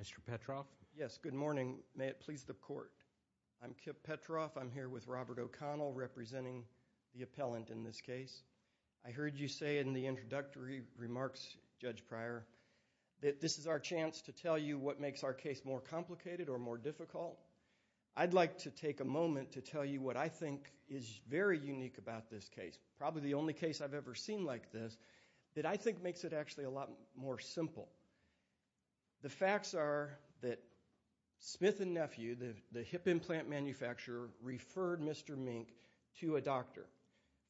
Mr. Petroff, may it please the Court, I'm Kip Petroff, I'm here with Robert O'Connell representing the appellant in this case. I heard you say in the introductory remarks, Judge Pryor, that this is our chance to tell you what makes our case more complicated or more difficult. I'd like to take a moment to tell you what I think is very unique about this case, probably the only case I've ever seen like this, that I think makes it actually a lot more simple. The facts are that Smith & Nephew, the hip implant manufacturer, referred Mr. Mink to a doctor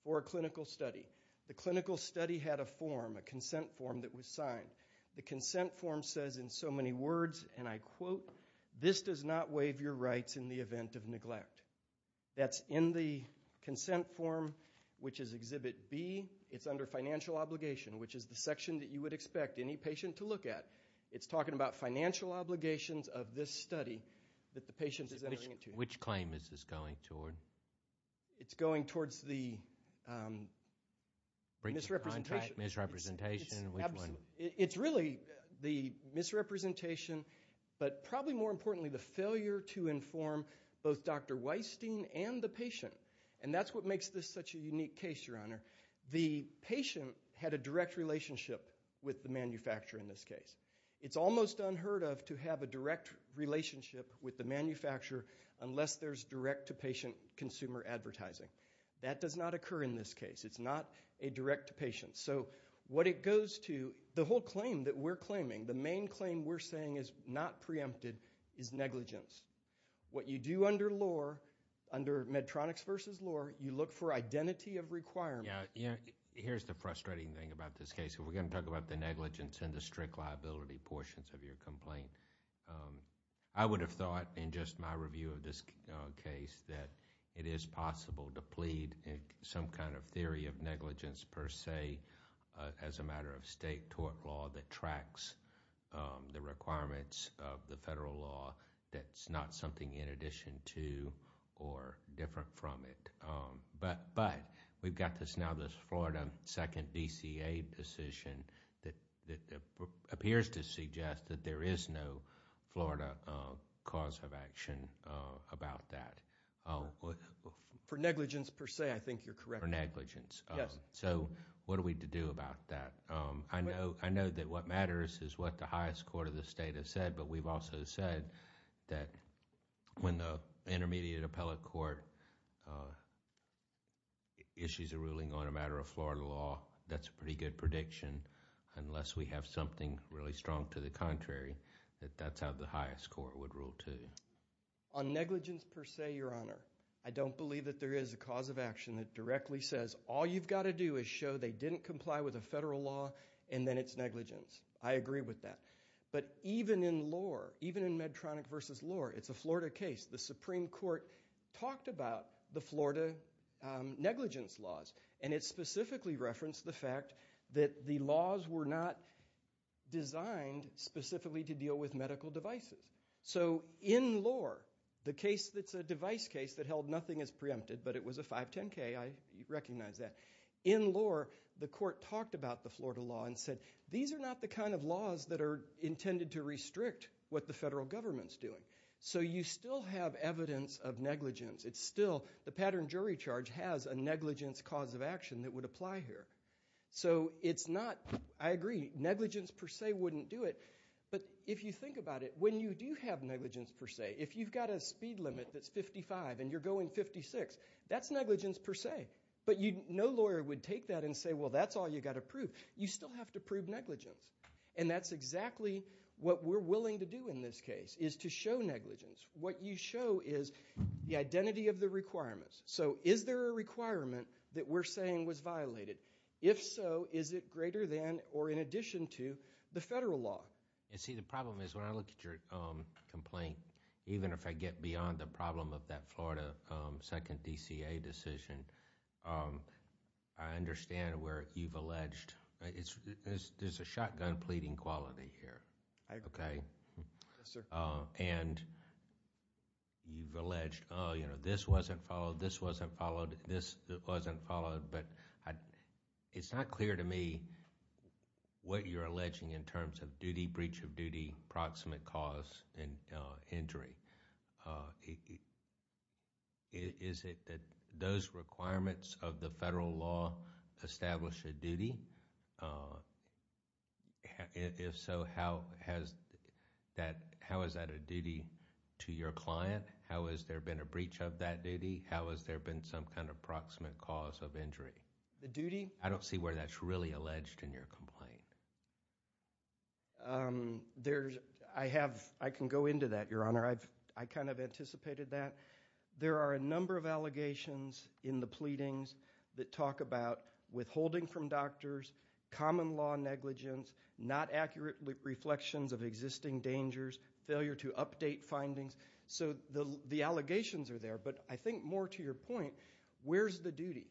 for a clinical study. The clinical study had a form, a consent form that was signed. The consent form says in so many words, and I quote, this does not waive your rights in the event of neglect. That's in the consent form, which is Exhibit B. It's under financial obligation, which is the section that you would expect any patient to look at. It's talking about financial obligations of this study that the patient is entering into. Which claim is this going toward? It's going towards the misrepresentation. Misrepresentation? Which one? It's really the misrepresentation, but probably more importantly, the failure to inform both Dr. Weistein and the patient. And that's what makes this such a unique case, Your Honor. The patient had a direct relationship with the manufacturer in this case. It's almost unheard of to have a direct relationship with the manufacturer unless there's direct to patient consumer advertising. That does not occur in this case. It's not a direct to patient. So what it goes to, the whole claim that we're claiming, the main claim we're saying is not preempted is negligence. What you do under law, under Medtronics versus law, you look for identity of requirement. Here's the frustrating thing about this case. We're going to talk about the negligence and the strict liability portions of your complaint. I would have thought in just my review of this case that it is possible to plead some kind of theory of negligence per se as a matter of state tort law that tracks the requirements of the federal law that's not something in addition to or different from it. But we've got this now, this Florida second DCA decision that appears to suggest that there is no Florida cause of action about that. For negligence per se, I think you're correct. For negligence. Yes. So what are we to do about that? I know that what matters is what the highest court of the state has said, but we've also said that when the intermediate appellate court issues a ruling on a matter of Florida law, that's a pretty good prediction unless we have something really strong to the contrary that that's how the highest court would rule too. On negligence per se, your honor, I don't believe that there is a cause of action that directly says all you've got to do is show they didn't comply with a federal law and then it's negligence. I agree with that. But even in law, even in Medtronic versus law, it's a Florida case. The Supreme Court talked about the Florida negligence laws, and it specifically referenced the fact that the laws were not designed specifically to deal with medical devices. So in law, the case that's a device case that held nothing as preempted, but it was a 510K, I recognize that. In law, the court talked about the Florida law and said, these are not the kind of laws that are intended to restrict what the federal government's doing. So you still have evidence of negligence. It's still, the pattern jury charge has a negligence cause of action that would apply here. So it's not, I agree, negligence per se wouldn't do it, but if you think about it, when you do have negligence per se, if you've got a speed limit that's 55 and you're going 56, that's negligence per se. But no lawyer would take that and say, well, that's all you've got to prove. You still have to prove negligence. And that's exactly what we're willing to do in this case, is to show negligence. What you show is the identity of the requirements. So is there a requirement that we're saying was violated? If so, is it greater than or in addition to the federal law? And see, the problem is when I look at your complaint, even if I get beyond the problem of that Florida second DCA decision, I understand where you've alleged, there's a shotgun pleading quality here, okay? And you've alleged, oh, you know, this wasn't followed, this wasn't followed, this wasn't followed. But it's not clear to me what you're alleging in terms of duty, breach of duty, proximate cause and injury. Is it that those requirements of the federal law establish a duty? If so, how is that a duty to your client? How has there been a breach of that duty? How has there been some kind of proximate cause of injury? The duty? I don't see where that's really alleged in your complaint. I can go into that, Your Honor. I kind of anticipated that. There are a number of allegations in the pleadings that talk about withholding from doctors, common law negligence, not accurate reflections of existing dangers, failure to update findings. So the allegations are there. But I think more to your point, where's the duty?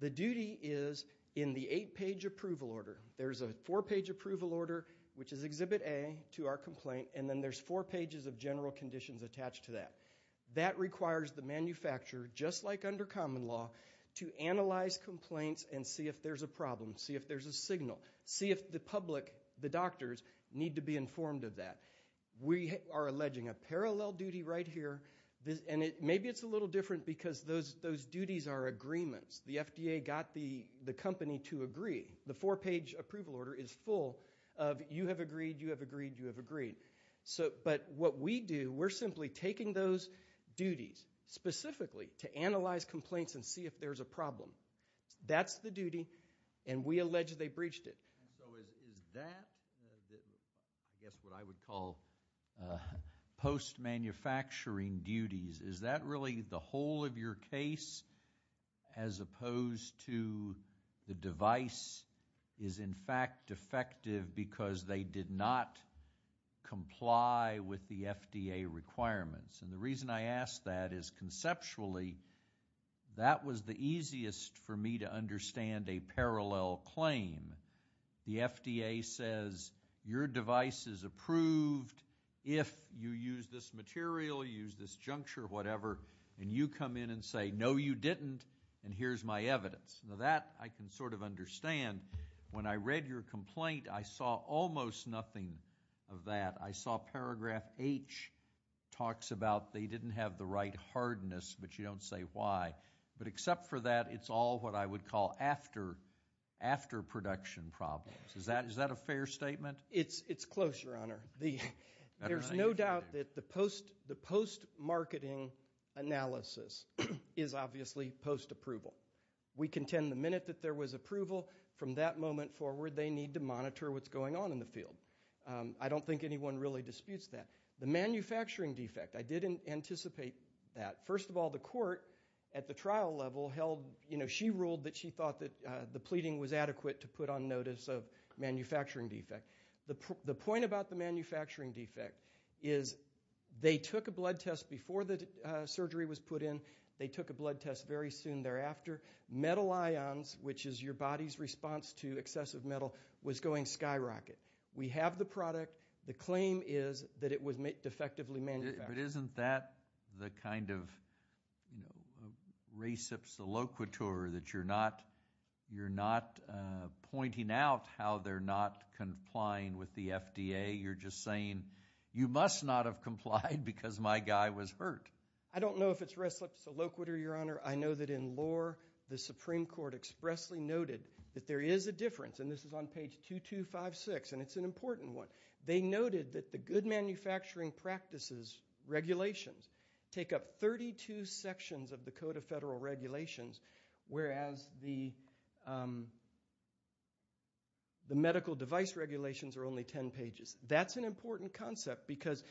The duty is in the eight-page approval order. There's a four-page approval order, which is Exhibit A to our complaint, and then there's four pages of general conditions attached to that. That requires the manufacturer, just like under common law, to analyze complaints and see if there's a problem, see if there's a signal, see if the public, the doctors, need to be informed of that. We are alleging a parallel duty right here. Maybe it's a little different because those duties are agreements. The FDA got the company to agree. The four-page approval order is full of you have agreed, you have agreed, you have agreed. But what we do, we're simply taking those duties specifically to analyze complaints and see if there's a problem. That's the duty, and we allege they breached it. So is that, I guess what I would call post-manufacturing duties, is that really the whole of your case as opposed to the device is, in fact, defective because they did not comply with the FDA requirements? And the reason I ask that is, conceptually, that was the easiest for me to understand a parallel claim. The FDA says, your device is approved if you use this material, use this juncture, whatever, and you come in and say, no, you didn't, and here's my evidence. Now, that I can sort of understand. When I read your complaint, I saw almost nothing of that. I saw paragraph H talks about they didn't have the right hardness, but you don't say why. But except for that, it's all what I would call after-production problems. Is that a fair statement? It's close, Your Honor. There's no doubt that the post-marketing analysis is obviously post-approval. We contend the minute that there was approval, from that moment forward, they need to monitor what's going on in the field. I don't think anyone really disputes that. The manufacturing defect, I didn't anticipate that. First of all, the court at the trial level held, you know, she ruled that she thought that the pleading was adequate to put on notice of manufacturing defect. The point about the manufacturing defect is they took a blood test before the surgery was put in. They took a blood test very soon thereafter. Metal ions, which is your body's response to excessive metal, was going skyrocket. We have the product. The claim is that it was defectively manufactured. But isn't that the kind of, you know, reciprocity that you're not pointing out how they're not complying with the FDA? You're just saying, you must not have complied because my guy was hurt. I don't know if it's reciprocity, Your Honor. I know that in lore, the Supreme Court expressly noted that there is a difference, and this is on page 2256, and it's an important one. They noted that the good manufacturing practices regulations take up 32 sections of the Code of Federal Regulations, whereas the medical device regulations are only 10 pages. That's an important concept because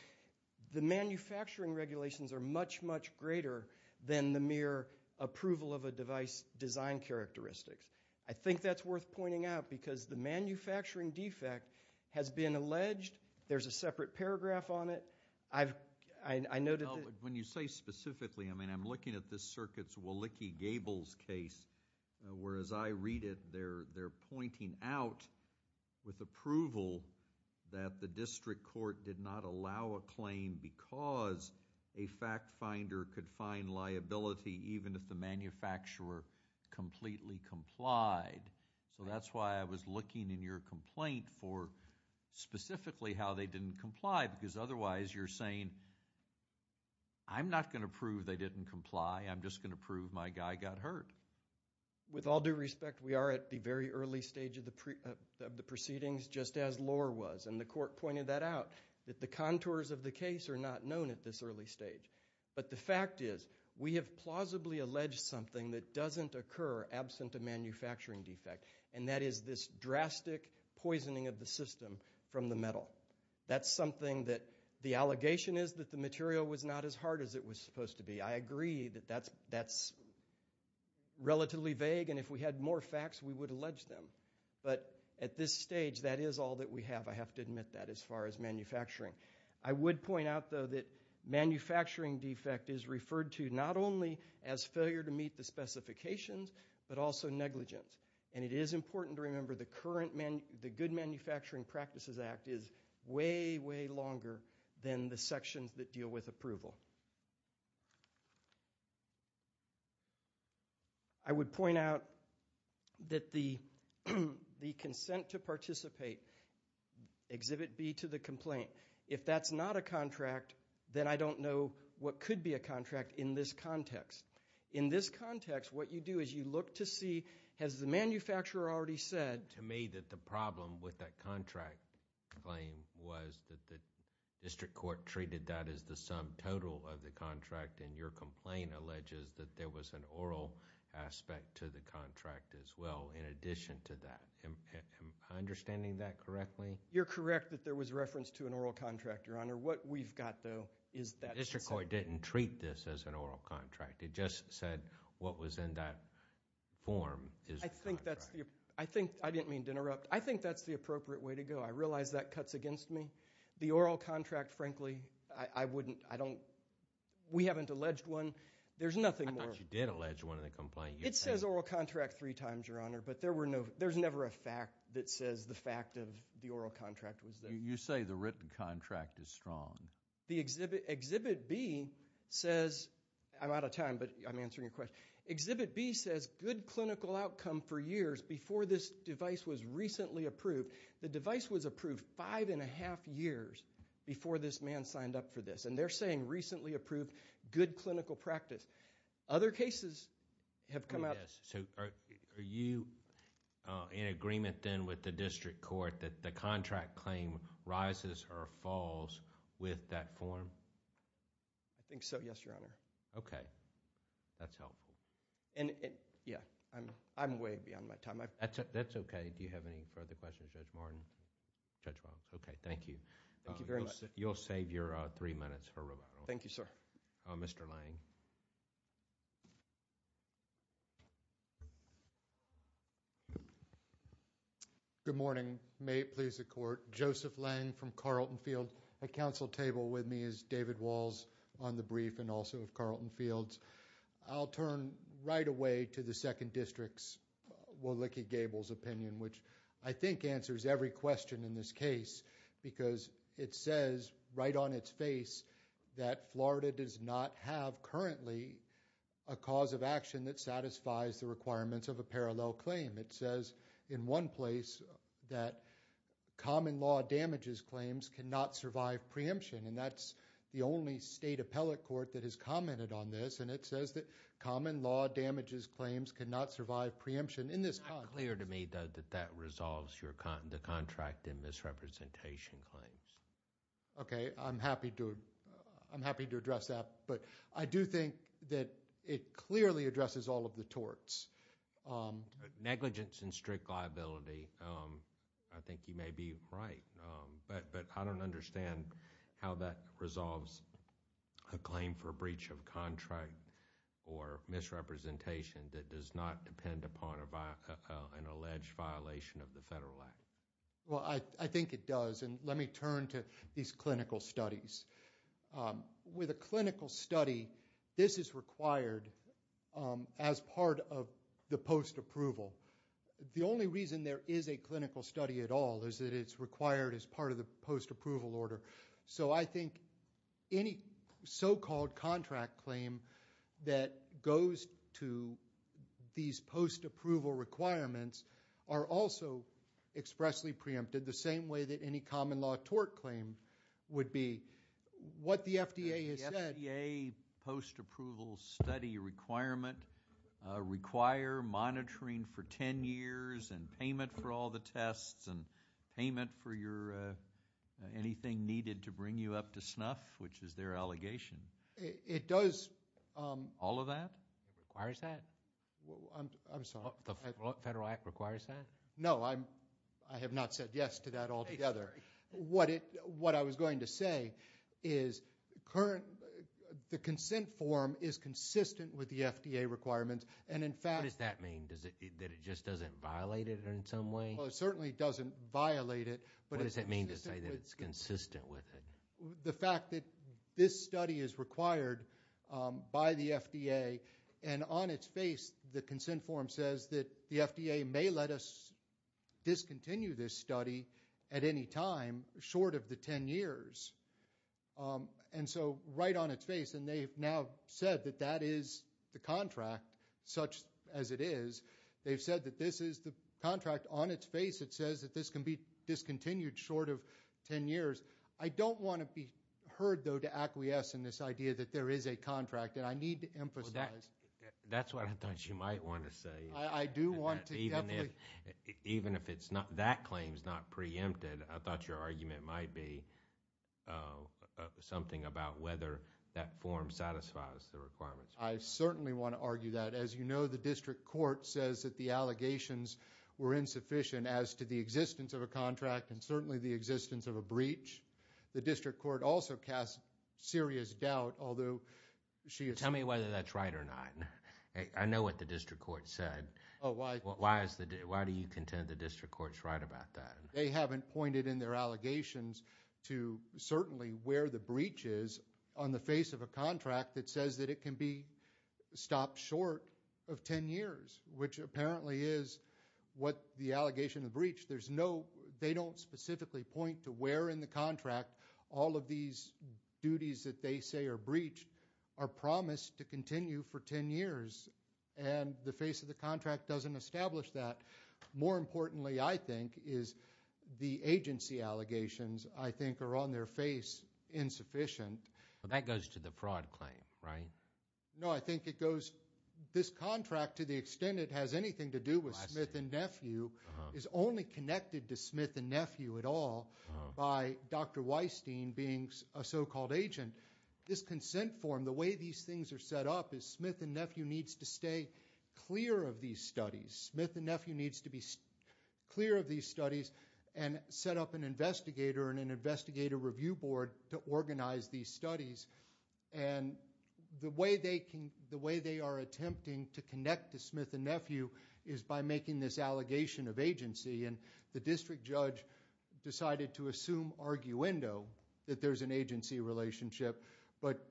the manufacturing regulations are much, much greater than the mere approval of a device design characteristics. I think that's worth pointing out because the manufacturing defect has been alleged. There's a separate paragraph on it. I noted that... When you say specifically, I mean, I'm looking at this circuit's Willicke-Gable's case, whereas I read it, they're pointing out with approval that the district court did not allow a claim because a fact finder could find liability even if the manufacturer completely complied. So that's why I was looking in your complaint for specifically how they didn't comply because otherwise, you're saying, I'm not going to prove they didn't comply. I'm just going to prove my guy got hurt. With all due respect, we are at the very early stage of the proceedings just as lore was, and the court pointed that out, that the contours of the case are not known at this early stage. But the fact is, we have plausibly alleged something that doesn't occur absent a manufacturing defect, and that is this drastic poisoning of the system from the metal. That's something that the allegation is that the material was not as hard as it was supposed to be. I agree that that's relatively vague, and if we had more facts, we would allege them. But at this stage, that is all that we have, I have to admit that, as far as manufacturing. I would point out, though, that manufacturing defect is referred to not only as failure to meet the specifications, but also negligence, and it is important to remember the Good Manufacturing Practices Act is way, way longer than the sections that deal with approval. I would point out that the consent to participate, Exhibit B to the complaint, if that's not a contract, then I don't know what could be a contract in this context. In this context, what you do is you look to see, has the manufacturer already said to me that the problem with that contract claim was that the district court treated that as the sum total of the contract, and your complaint alleges that there was an oral aspect to the contract as well, in addition to that. Am I understanding that correctly? You're correct that there was reference to an oral contract, Your Honor. What we've got, though, is that... The district court didn't treat this as an It just said what was in that form is the contract. I think that's the... I didn't mean to interrupt. I think that's the appropriate way to go. I realize that cuts against me. The oral contract, frankly, I wouldn't... I don't... We haven't alleged one. There's nothing more... I thought you did allege one in the complaint. It says oral contract three times, Your Honor, but there's never a fact that says the fact of the oral contract was there. You say the written contract is strong. The Exhibit B says... I'm out of time, but I'm answering your question. Exhibit B says good clinical outcome for years before this device was recently approved. The device was approved five and a half years before this man signed up for this. They're saying recently approved, good clinical practice. Other cases have come out... Yes. Are you in agreement, then, with the district court that the contract claim rises or falls with that form? I think so, yes, Your Honor. Okay. That's helpful. Yes. I'm way beyond my time. That's okay. Do you have any further questions, Judge Martin? Judge Walz? Okay. Thank you. Thank you very much. You'll save your three minutes for rebuttal. Thank you, sir. Mr. Lange. Good morning. May it please the Court. Joseph Lange from Carlton Field. At counsel table with me is David Walz on the brief and also of Carlton Field's. I'll turn right away to the Second District's, Walecki Gable's, opinion, which I think answers every question in this case because it says right on its face that Florida does not have currently a cause of action that satisfies the requirements of a parallel claim. It says in one place that common law damages claims cannot survive preemption, and that's the only state appellate court that has commented on this, and it says that common law damages claims cannot survive preemption. In this context... It's not clear to me, though, that that resolves the contract and misrepresentation claims. Okay. I'm happy to address that, but I do think that it clearly addresses all of the torts. Negligence and strict liability, I think you may be right, but I don't understand how that resolves a claim for a breach of contract or misrepresentation that does not depend upon an alleged violation of the Federal Act. Well, I think it does, and let me turn to these clinical studies. With a clinical study, this is required as part of the post-approval. The only reason there is a clinical study at all is that it's required as part of the post-approval order. So I think any so-called contract claim that goes to these post-approval requirements are also expressly preempted the same way that any common law tort claim would be. What the FDA has said... The FDA post-approval study requirement require monitoring for 10 years and payment for all to snuff, which is their allegation. It does... All of that? It requires that? I'm sorry. The Federal Act requires that? No, I have not said yes to that altogether. What I was going to say is the consent form is consistent with the FDA requirements, and in fact... What does that mean? That it just doesn't violate it in some way? Well, it certainly doesn't violate it, but it's consistent with... The fact that this study is required by the FDA, and on its face the consent form says that the FDA may let us discontinue this study at any time short of the 10 years. And so right on its face, and they've now said that that is the contract such as it is. They've said that this is the contract on its face that says that this can be discontinued short of 10 years. I don't want to be heard, though, to acquiesce in this idea that there is a contract, and I need to emphasize... Well, that's what I thought you might want to say. I do want to definitely... Even if that claim is not preempted, I thought your argument might be something about whether that form satisfies the requirements. I certainly want to argue that. As you know, the district court says that the allegations were insufficient as to the breach. The district court also cast serious doubt, although she... Tell me whether that's right or not. I know what the district court said. Why do you contend the district court's right about that? They haven't pointed in their allegations to certainly where the breach is on the face of a contract that says that it can be stopped short of 10 years, which apparently is what the allegation of the breach... They don't specifically point to where in the contract all of these duties that they say are breached are promised to continue for 10 years, and the face of the contract doesn't establish that. More importantly, I think, is the agency allegations, I think, are on their face insufficient. That goes to the fraud claim, right? No, I think it goes... This contract, to the extent it has anything to do with Smith and Nephew, is only connected to Smith and Nephew at all by Dr. Weistein being a so-called agent. This consent form, the way these things are set up is Smith and Nephew needs to stay clear of these studies. Smith and Nephew needs to be clear of these studies and set up an investigator and an investigator review board to organize these studies, and the way they are attempting to I'm making this allegation of agency, and the district judge decided to assume arguendo that there's an agency relationship, but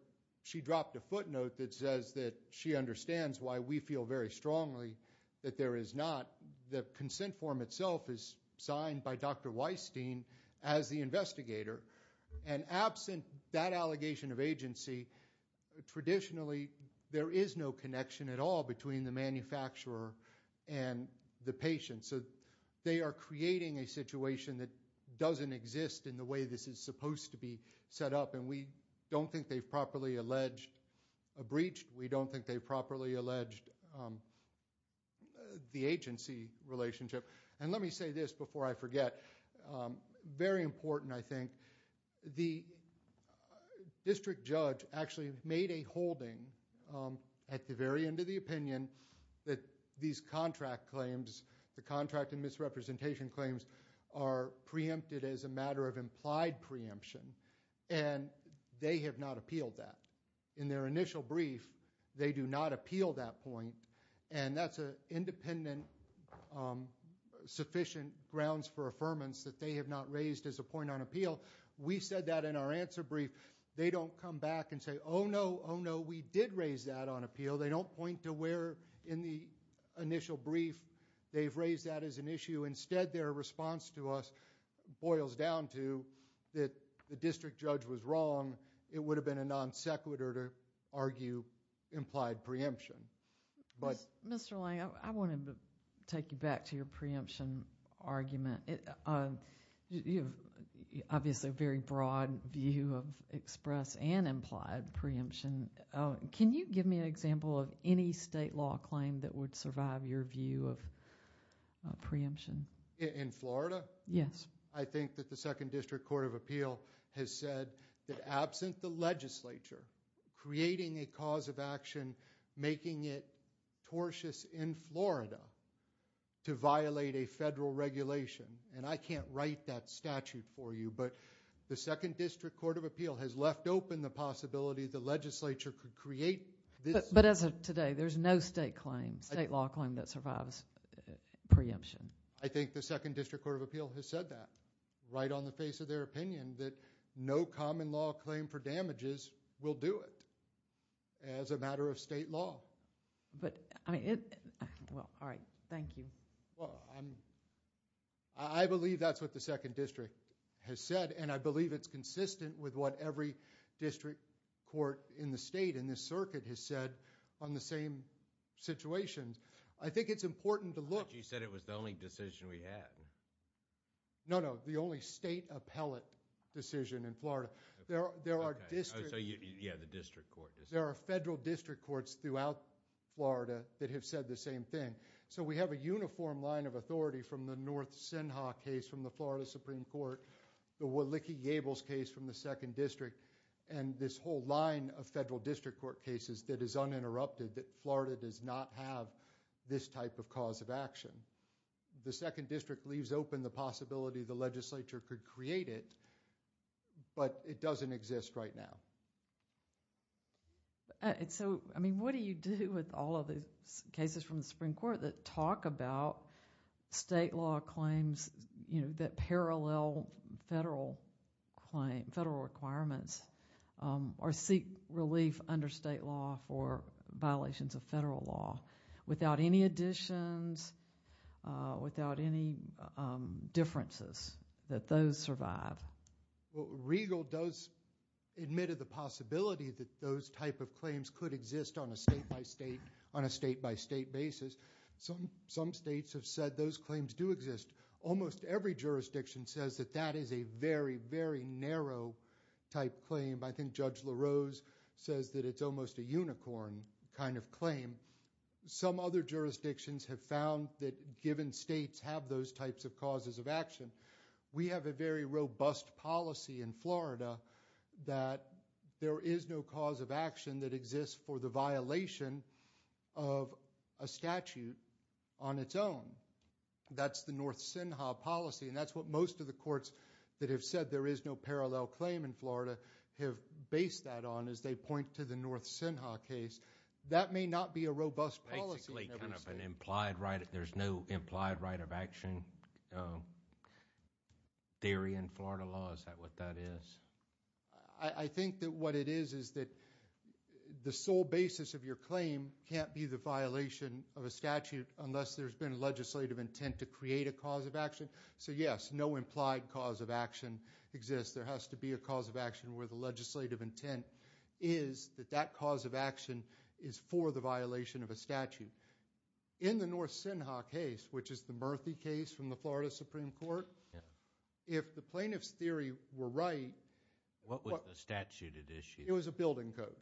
she dropped a footnote that says that she understands why we feel very strongly that there is not. The consent form itself is signed by Dr. Weistein as the investigator, and absent that allegation of agency, traditionally there is no connection at all between the manufacturer and the patient, so they are creating a situation that doesn't exist in the way this is supposed to be set up, and we don't think they've properly alleged a breach. We don't think they've properly alleged the agency relationship, and let me say this before I forget, very important, I think, the district judge actually made a holding at the very end of the opinion that these contract claims, the contract and misrepresentation claims are preempted as a matter of implied preemption, and they have not appealed that. In their initial brief, they do not appeal that point, and that's an independent, sufficient grounds for affirmance that they have not raised as a point on appeal. We said that in our answer brief. They don't come back and say, oh, no, oh, no, we did raise that on appeal. They don't point to where in the initial brief they've raised that as an issue. Instead, their response to us boils down to that the district judge was wrong. It would have been a non sequitur to argue implied preemption, but... You have obviously a very broad view of express and implied preemption. Can you give me an example of any state law claim that would survive your view of preemption? In Florida? Yes. I think that the Second District Court of Appeal has said that absent the legislature creating a cause of action, making it tortious in Florida to violate a federal regulation, and I can't write that statute for you, but the Second District Court of Appeal has left open the possibility the legislature could create this... But as of today, there's no state claim, state law claim that survives preemption. I think the Second District Court of Appeal has said that right on the face of their opinion that no common law claim for damages will do it as a matter of state law. But, I mean... Well, all right. Thank you. Well, I believe that's what the Second District has said, and I believe it's consistent with what every district court in the state in this circuit has said on the same situations. I think it's important to look... But you said it was the only decision we had. No, no. The only state appellate decision in Florida. There are district... Okay. Yeah, the district court decision. There are federal district courts throughout Florida that have said the same thing. We have a uniform line of authority from the North Senha case from the Florida Supreme Court, the Wiki Gables case from the Second District, and this whole line of federal district court cases that is uninterrupted, that Florida does not have this type of cause of action. The Second District leaves open the possibility the legislature could create it, but it doesn't exist right now. So, I mean, what do you do with all of these cases from the Supreme Court that talk about state law claims that parallel federal requirements or seek relief under state law for violations of federal law? Without any additions, without any differences, that those survive? Well, Regal does admit of the possibility that those type of claims could exist on a state-by-state, on a state-by-state basis. Some states have said those claims do exist. Almost every jurisdiction says that that is a very, very narrow type claim. I think Judge LaRose says that it's almost a unicorn kind of claim. Some other jurisdictions have found that given states have those types of causes of action, we have a very robust policy in Florida that there is no cause of action that exists for the violation of a statute on its own. That's the North Senha policy, and that's what most of the courts that have said there is no parallel claim in Florida have based that on as they point to the North Senha case. That may not be a robust policy. Basically, kind of an implied right, there's no implied right of action theory in Florida law, is that what that is? I think that what it is is that the sole basis of your claim can't be the violation of a statute unless there's been a legislative intent to create a cause of action. Yes, no implied cause of action exists. There has to be a cause of action where the legislative intent is that that cause of action is for the violation of a statute. In the North Senha case, which is the Murthy case from the Florida Supreme Court, if the plaintiff's theory were right, what was the statute at issue? It was a building code.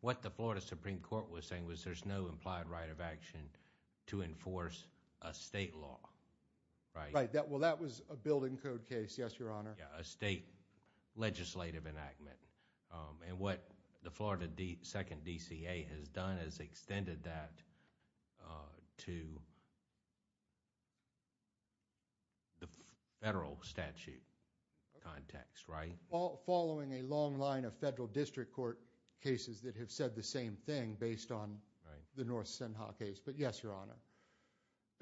What the Florida Supreme Court was saying was there's no implied right of action to create a state law. Right. Well, that was a building code case, yes, Your Honor. A state legislative enactment. And what the Florida Second DCA has done is extended that to the federal statute context, right? Following a long line of federal district court cases that have said the same thing based on the North Senha case, but yes, Your Honor.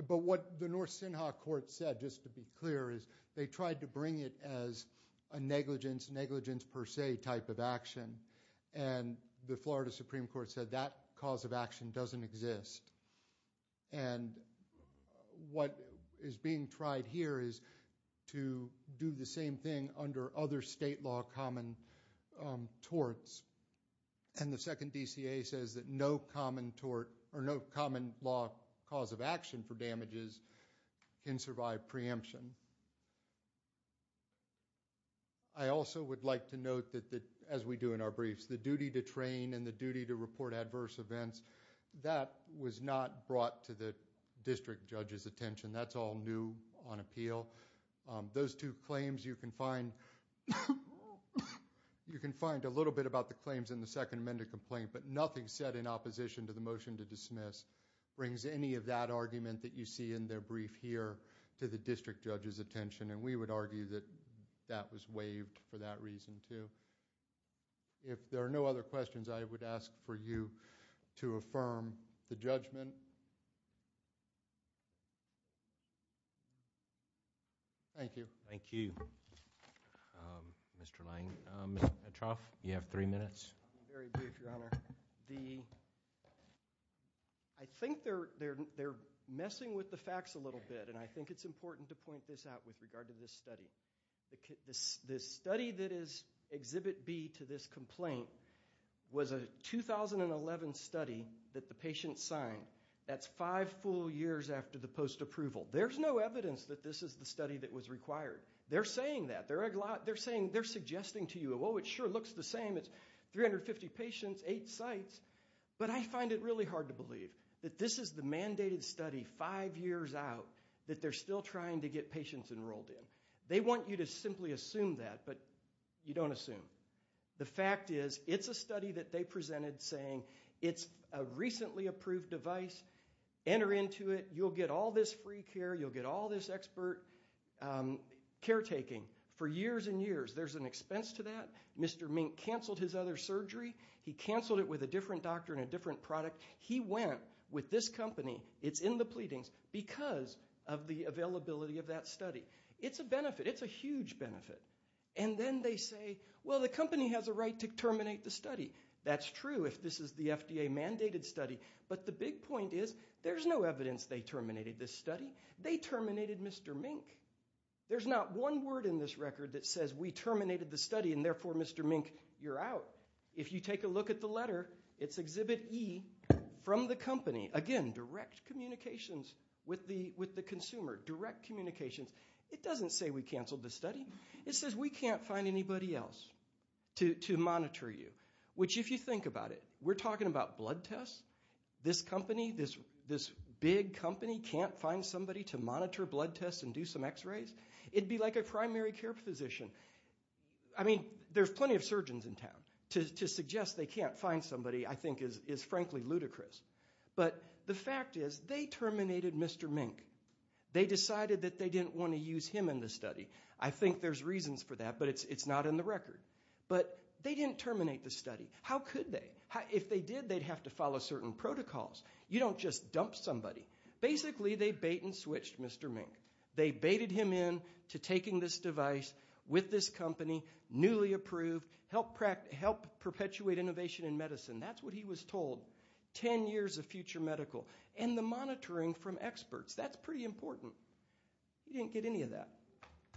But what the North Senha court said, just to be clear, is they tried to bring it as a negligence, negligence per se type of action. And the Florida Supreme Court said that cause of action doesn't exist. And what is being tried here is to do the same thing under other state law common torts. And the Second DCA says that no common tort, or no common law cause of action for damages can survive preemption. I also would like to note that, as we do in our briefs, the duty to train and the duty to report adverse events, that was not brought to the district judge's attention. That's all new on appeal. Those two claims you can find, you can find a little bit about the claims in the second amended complaint, but nothing said in opposition to the motion to dismiss brings any of that argument that you see in their brief here to the district judge's attention. And we would argue that that was waived for that reason too. If there are no other questions, I would ask for you to affirm the judgment. Thank you. Thank you. Mr. Metcalf, you have three minutes. Very brief, your honor. I think they're messing with the facts a little bit, and I think it's important to point this out with regard to this study. This study that is Exhibit B to this complaint was a 2011 study that the patient signed. That's five full years after the post-approval. There's no evidence that this is the study that was required. They're saying that. They're saying, they're suggesting to you, oh, it sure looks the same. It's 350 patients, eight sites. But I find it really hard to believe that this is the mandated study five years out that they're still trying to get patients enrolled in. They want you to simply assume that, but you don't assume. The fact is, it's a study that they presented saying it's a recently approved device, enter into it, you'll get all this free care, you'll get all this expert care taking for years and years. There's an expense to that. Mr. Mink canceled his other surgery. He canceled it with a different doctor and a different product. He went with this company. It's in the pleadings because of the availability of that study. It's a benefit. It's a huge benefit. And then they say, well, the company has a right to terminate the study. That's true if this is the FDA mandated study. But the big point is, there's no evidence they terminated this study. They terminated Mr. Mink. There's not one word in this record that says we terminated the study and therefore, Mr. Mink, you're out. If you take a look at the letter, it's exhibit E from the company. Again, direct communications with the consumer, direct communications. It doesn't say we canceled the study. It says we can't find anybody else to monitor you, which if you think about it, we're talking about blood tests. This company, this big company can't find somebody to monitor blood tests and do some x-rays? It'd be like a primary care physician. I mean, there's plenty of surgeons in town. To suggest they can't find somebody, I think, is frankly ludicrous. But the fact is, they terminated Mr. Mink. They decided that they didn't want to use him in the study. I think there's reasons for that, but it's not in the record. But they didn't terminate the study. How could they? If they did, they'd have to follow certain protocols. You don't just dump somebody. Basically, they bait and switched Mr. Mink. They baited him in to taking this device with this company, newly approved, help perpetuate innovation in medicine. That's what he was told. Ten years of future medical and the monitoring from experts. That's pretty important. He didn't get any of that.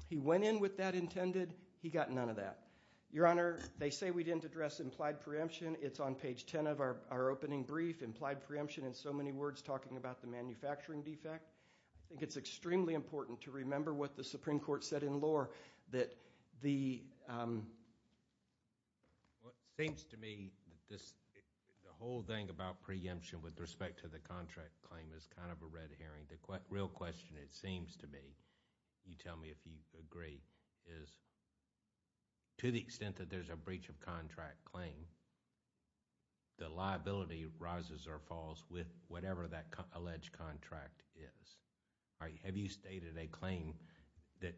He went in with that intended. He got none of that. Your Honor, they say we didn't address implied preemption. It's on page 10 of our opening brief. Implied preemption, in so many words, talking about the manufacturing defect. I think it's extremely important to remember what the Supreme Court said in lore, that the... It seems to me, the whole thing about preemption with respect to the contract claim is kind of a red herring. The real question, it seems to me, you tell me if you agree, is to the extent that there's a breach of contract claim, the liability rises or falls with whatever that alleged contract is. Have you stated a claim that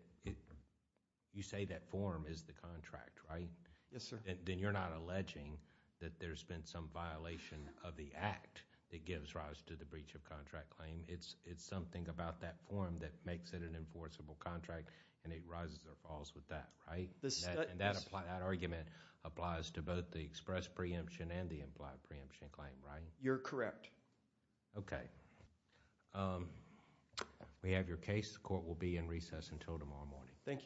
you say that form is the contract, right? Yes, sir. Then you're not alleging that there's been some violation of the act that gives rise to the breach of contract claim. It's something about that form that makes it an enforceable contract and it rises or falls with that, right? That argument applies to both the express preemption and the implied preemption claim, right? You're correct. Okay. We have your case. The court will be in recess until tomorrow morning. Thank you.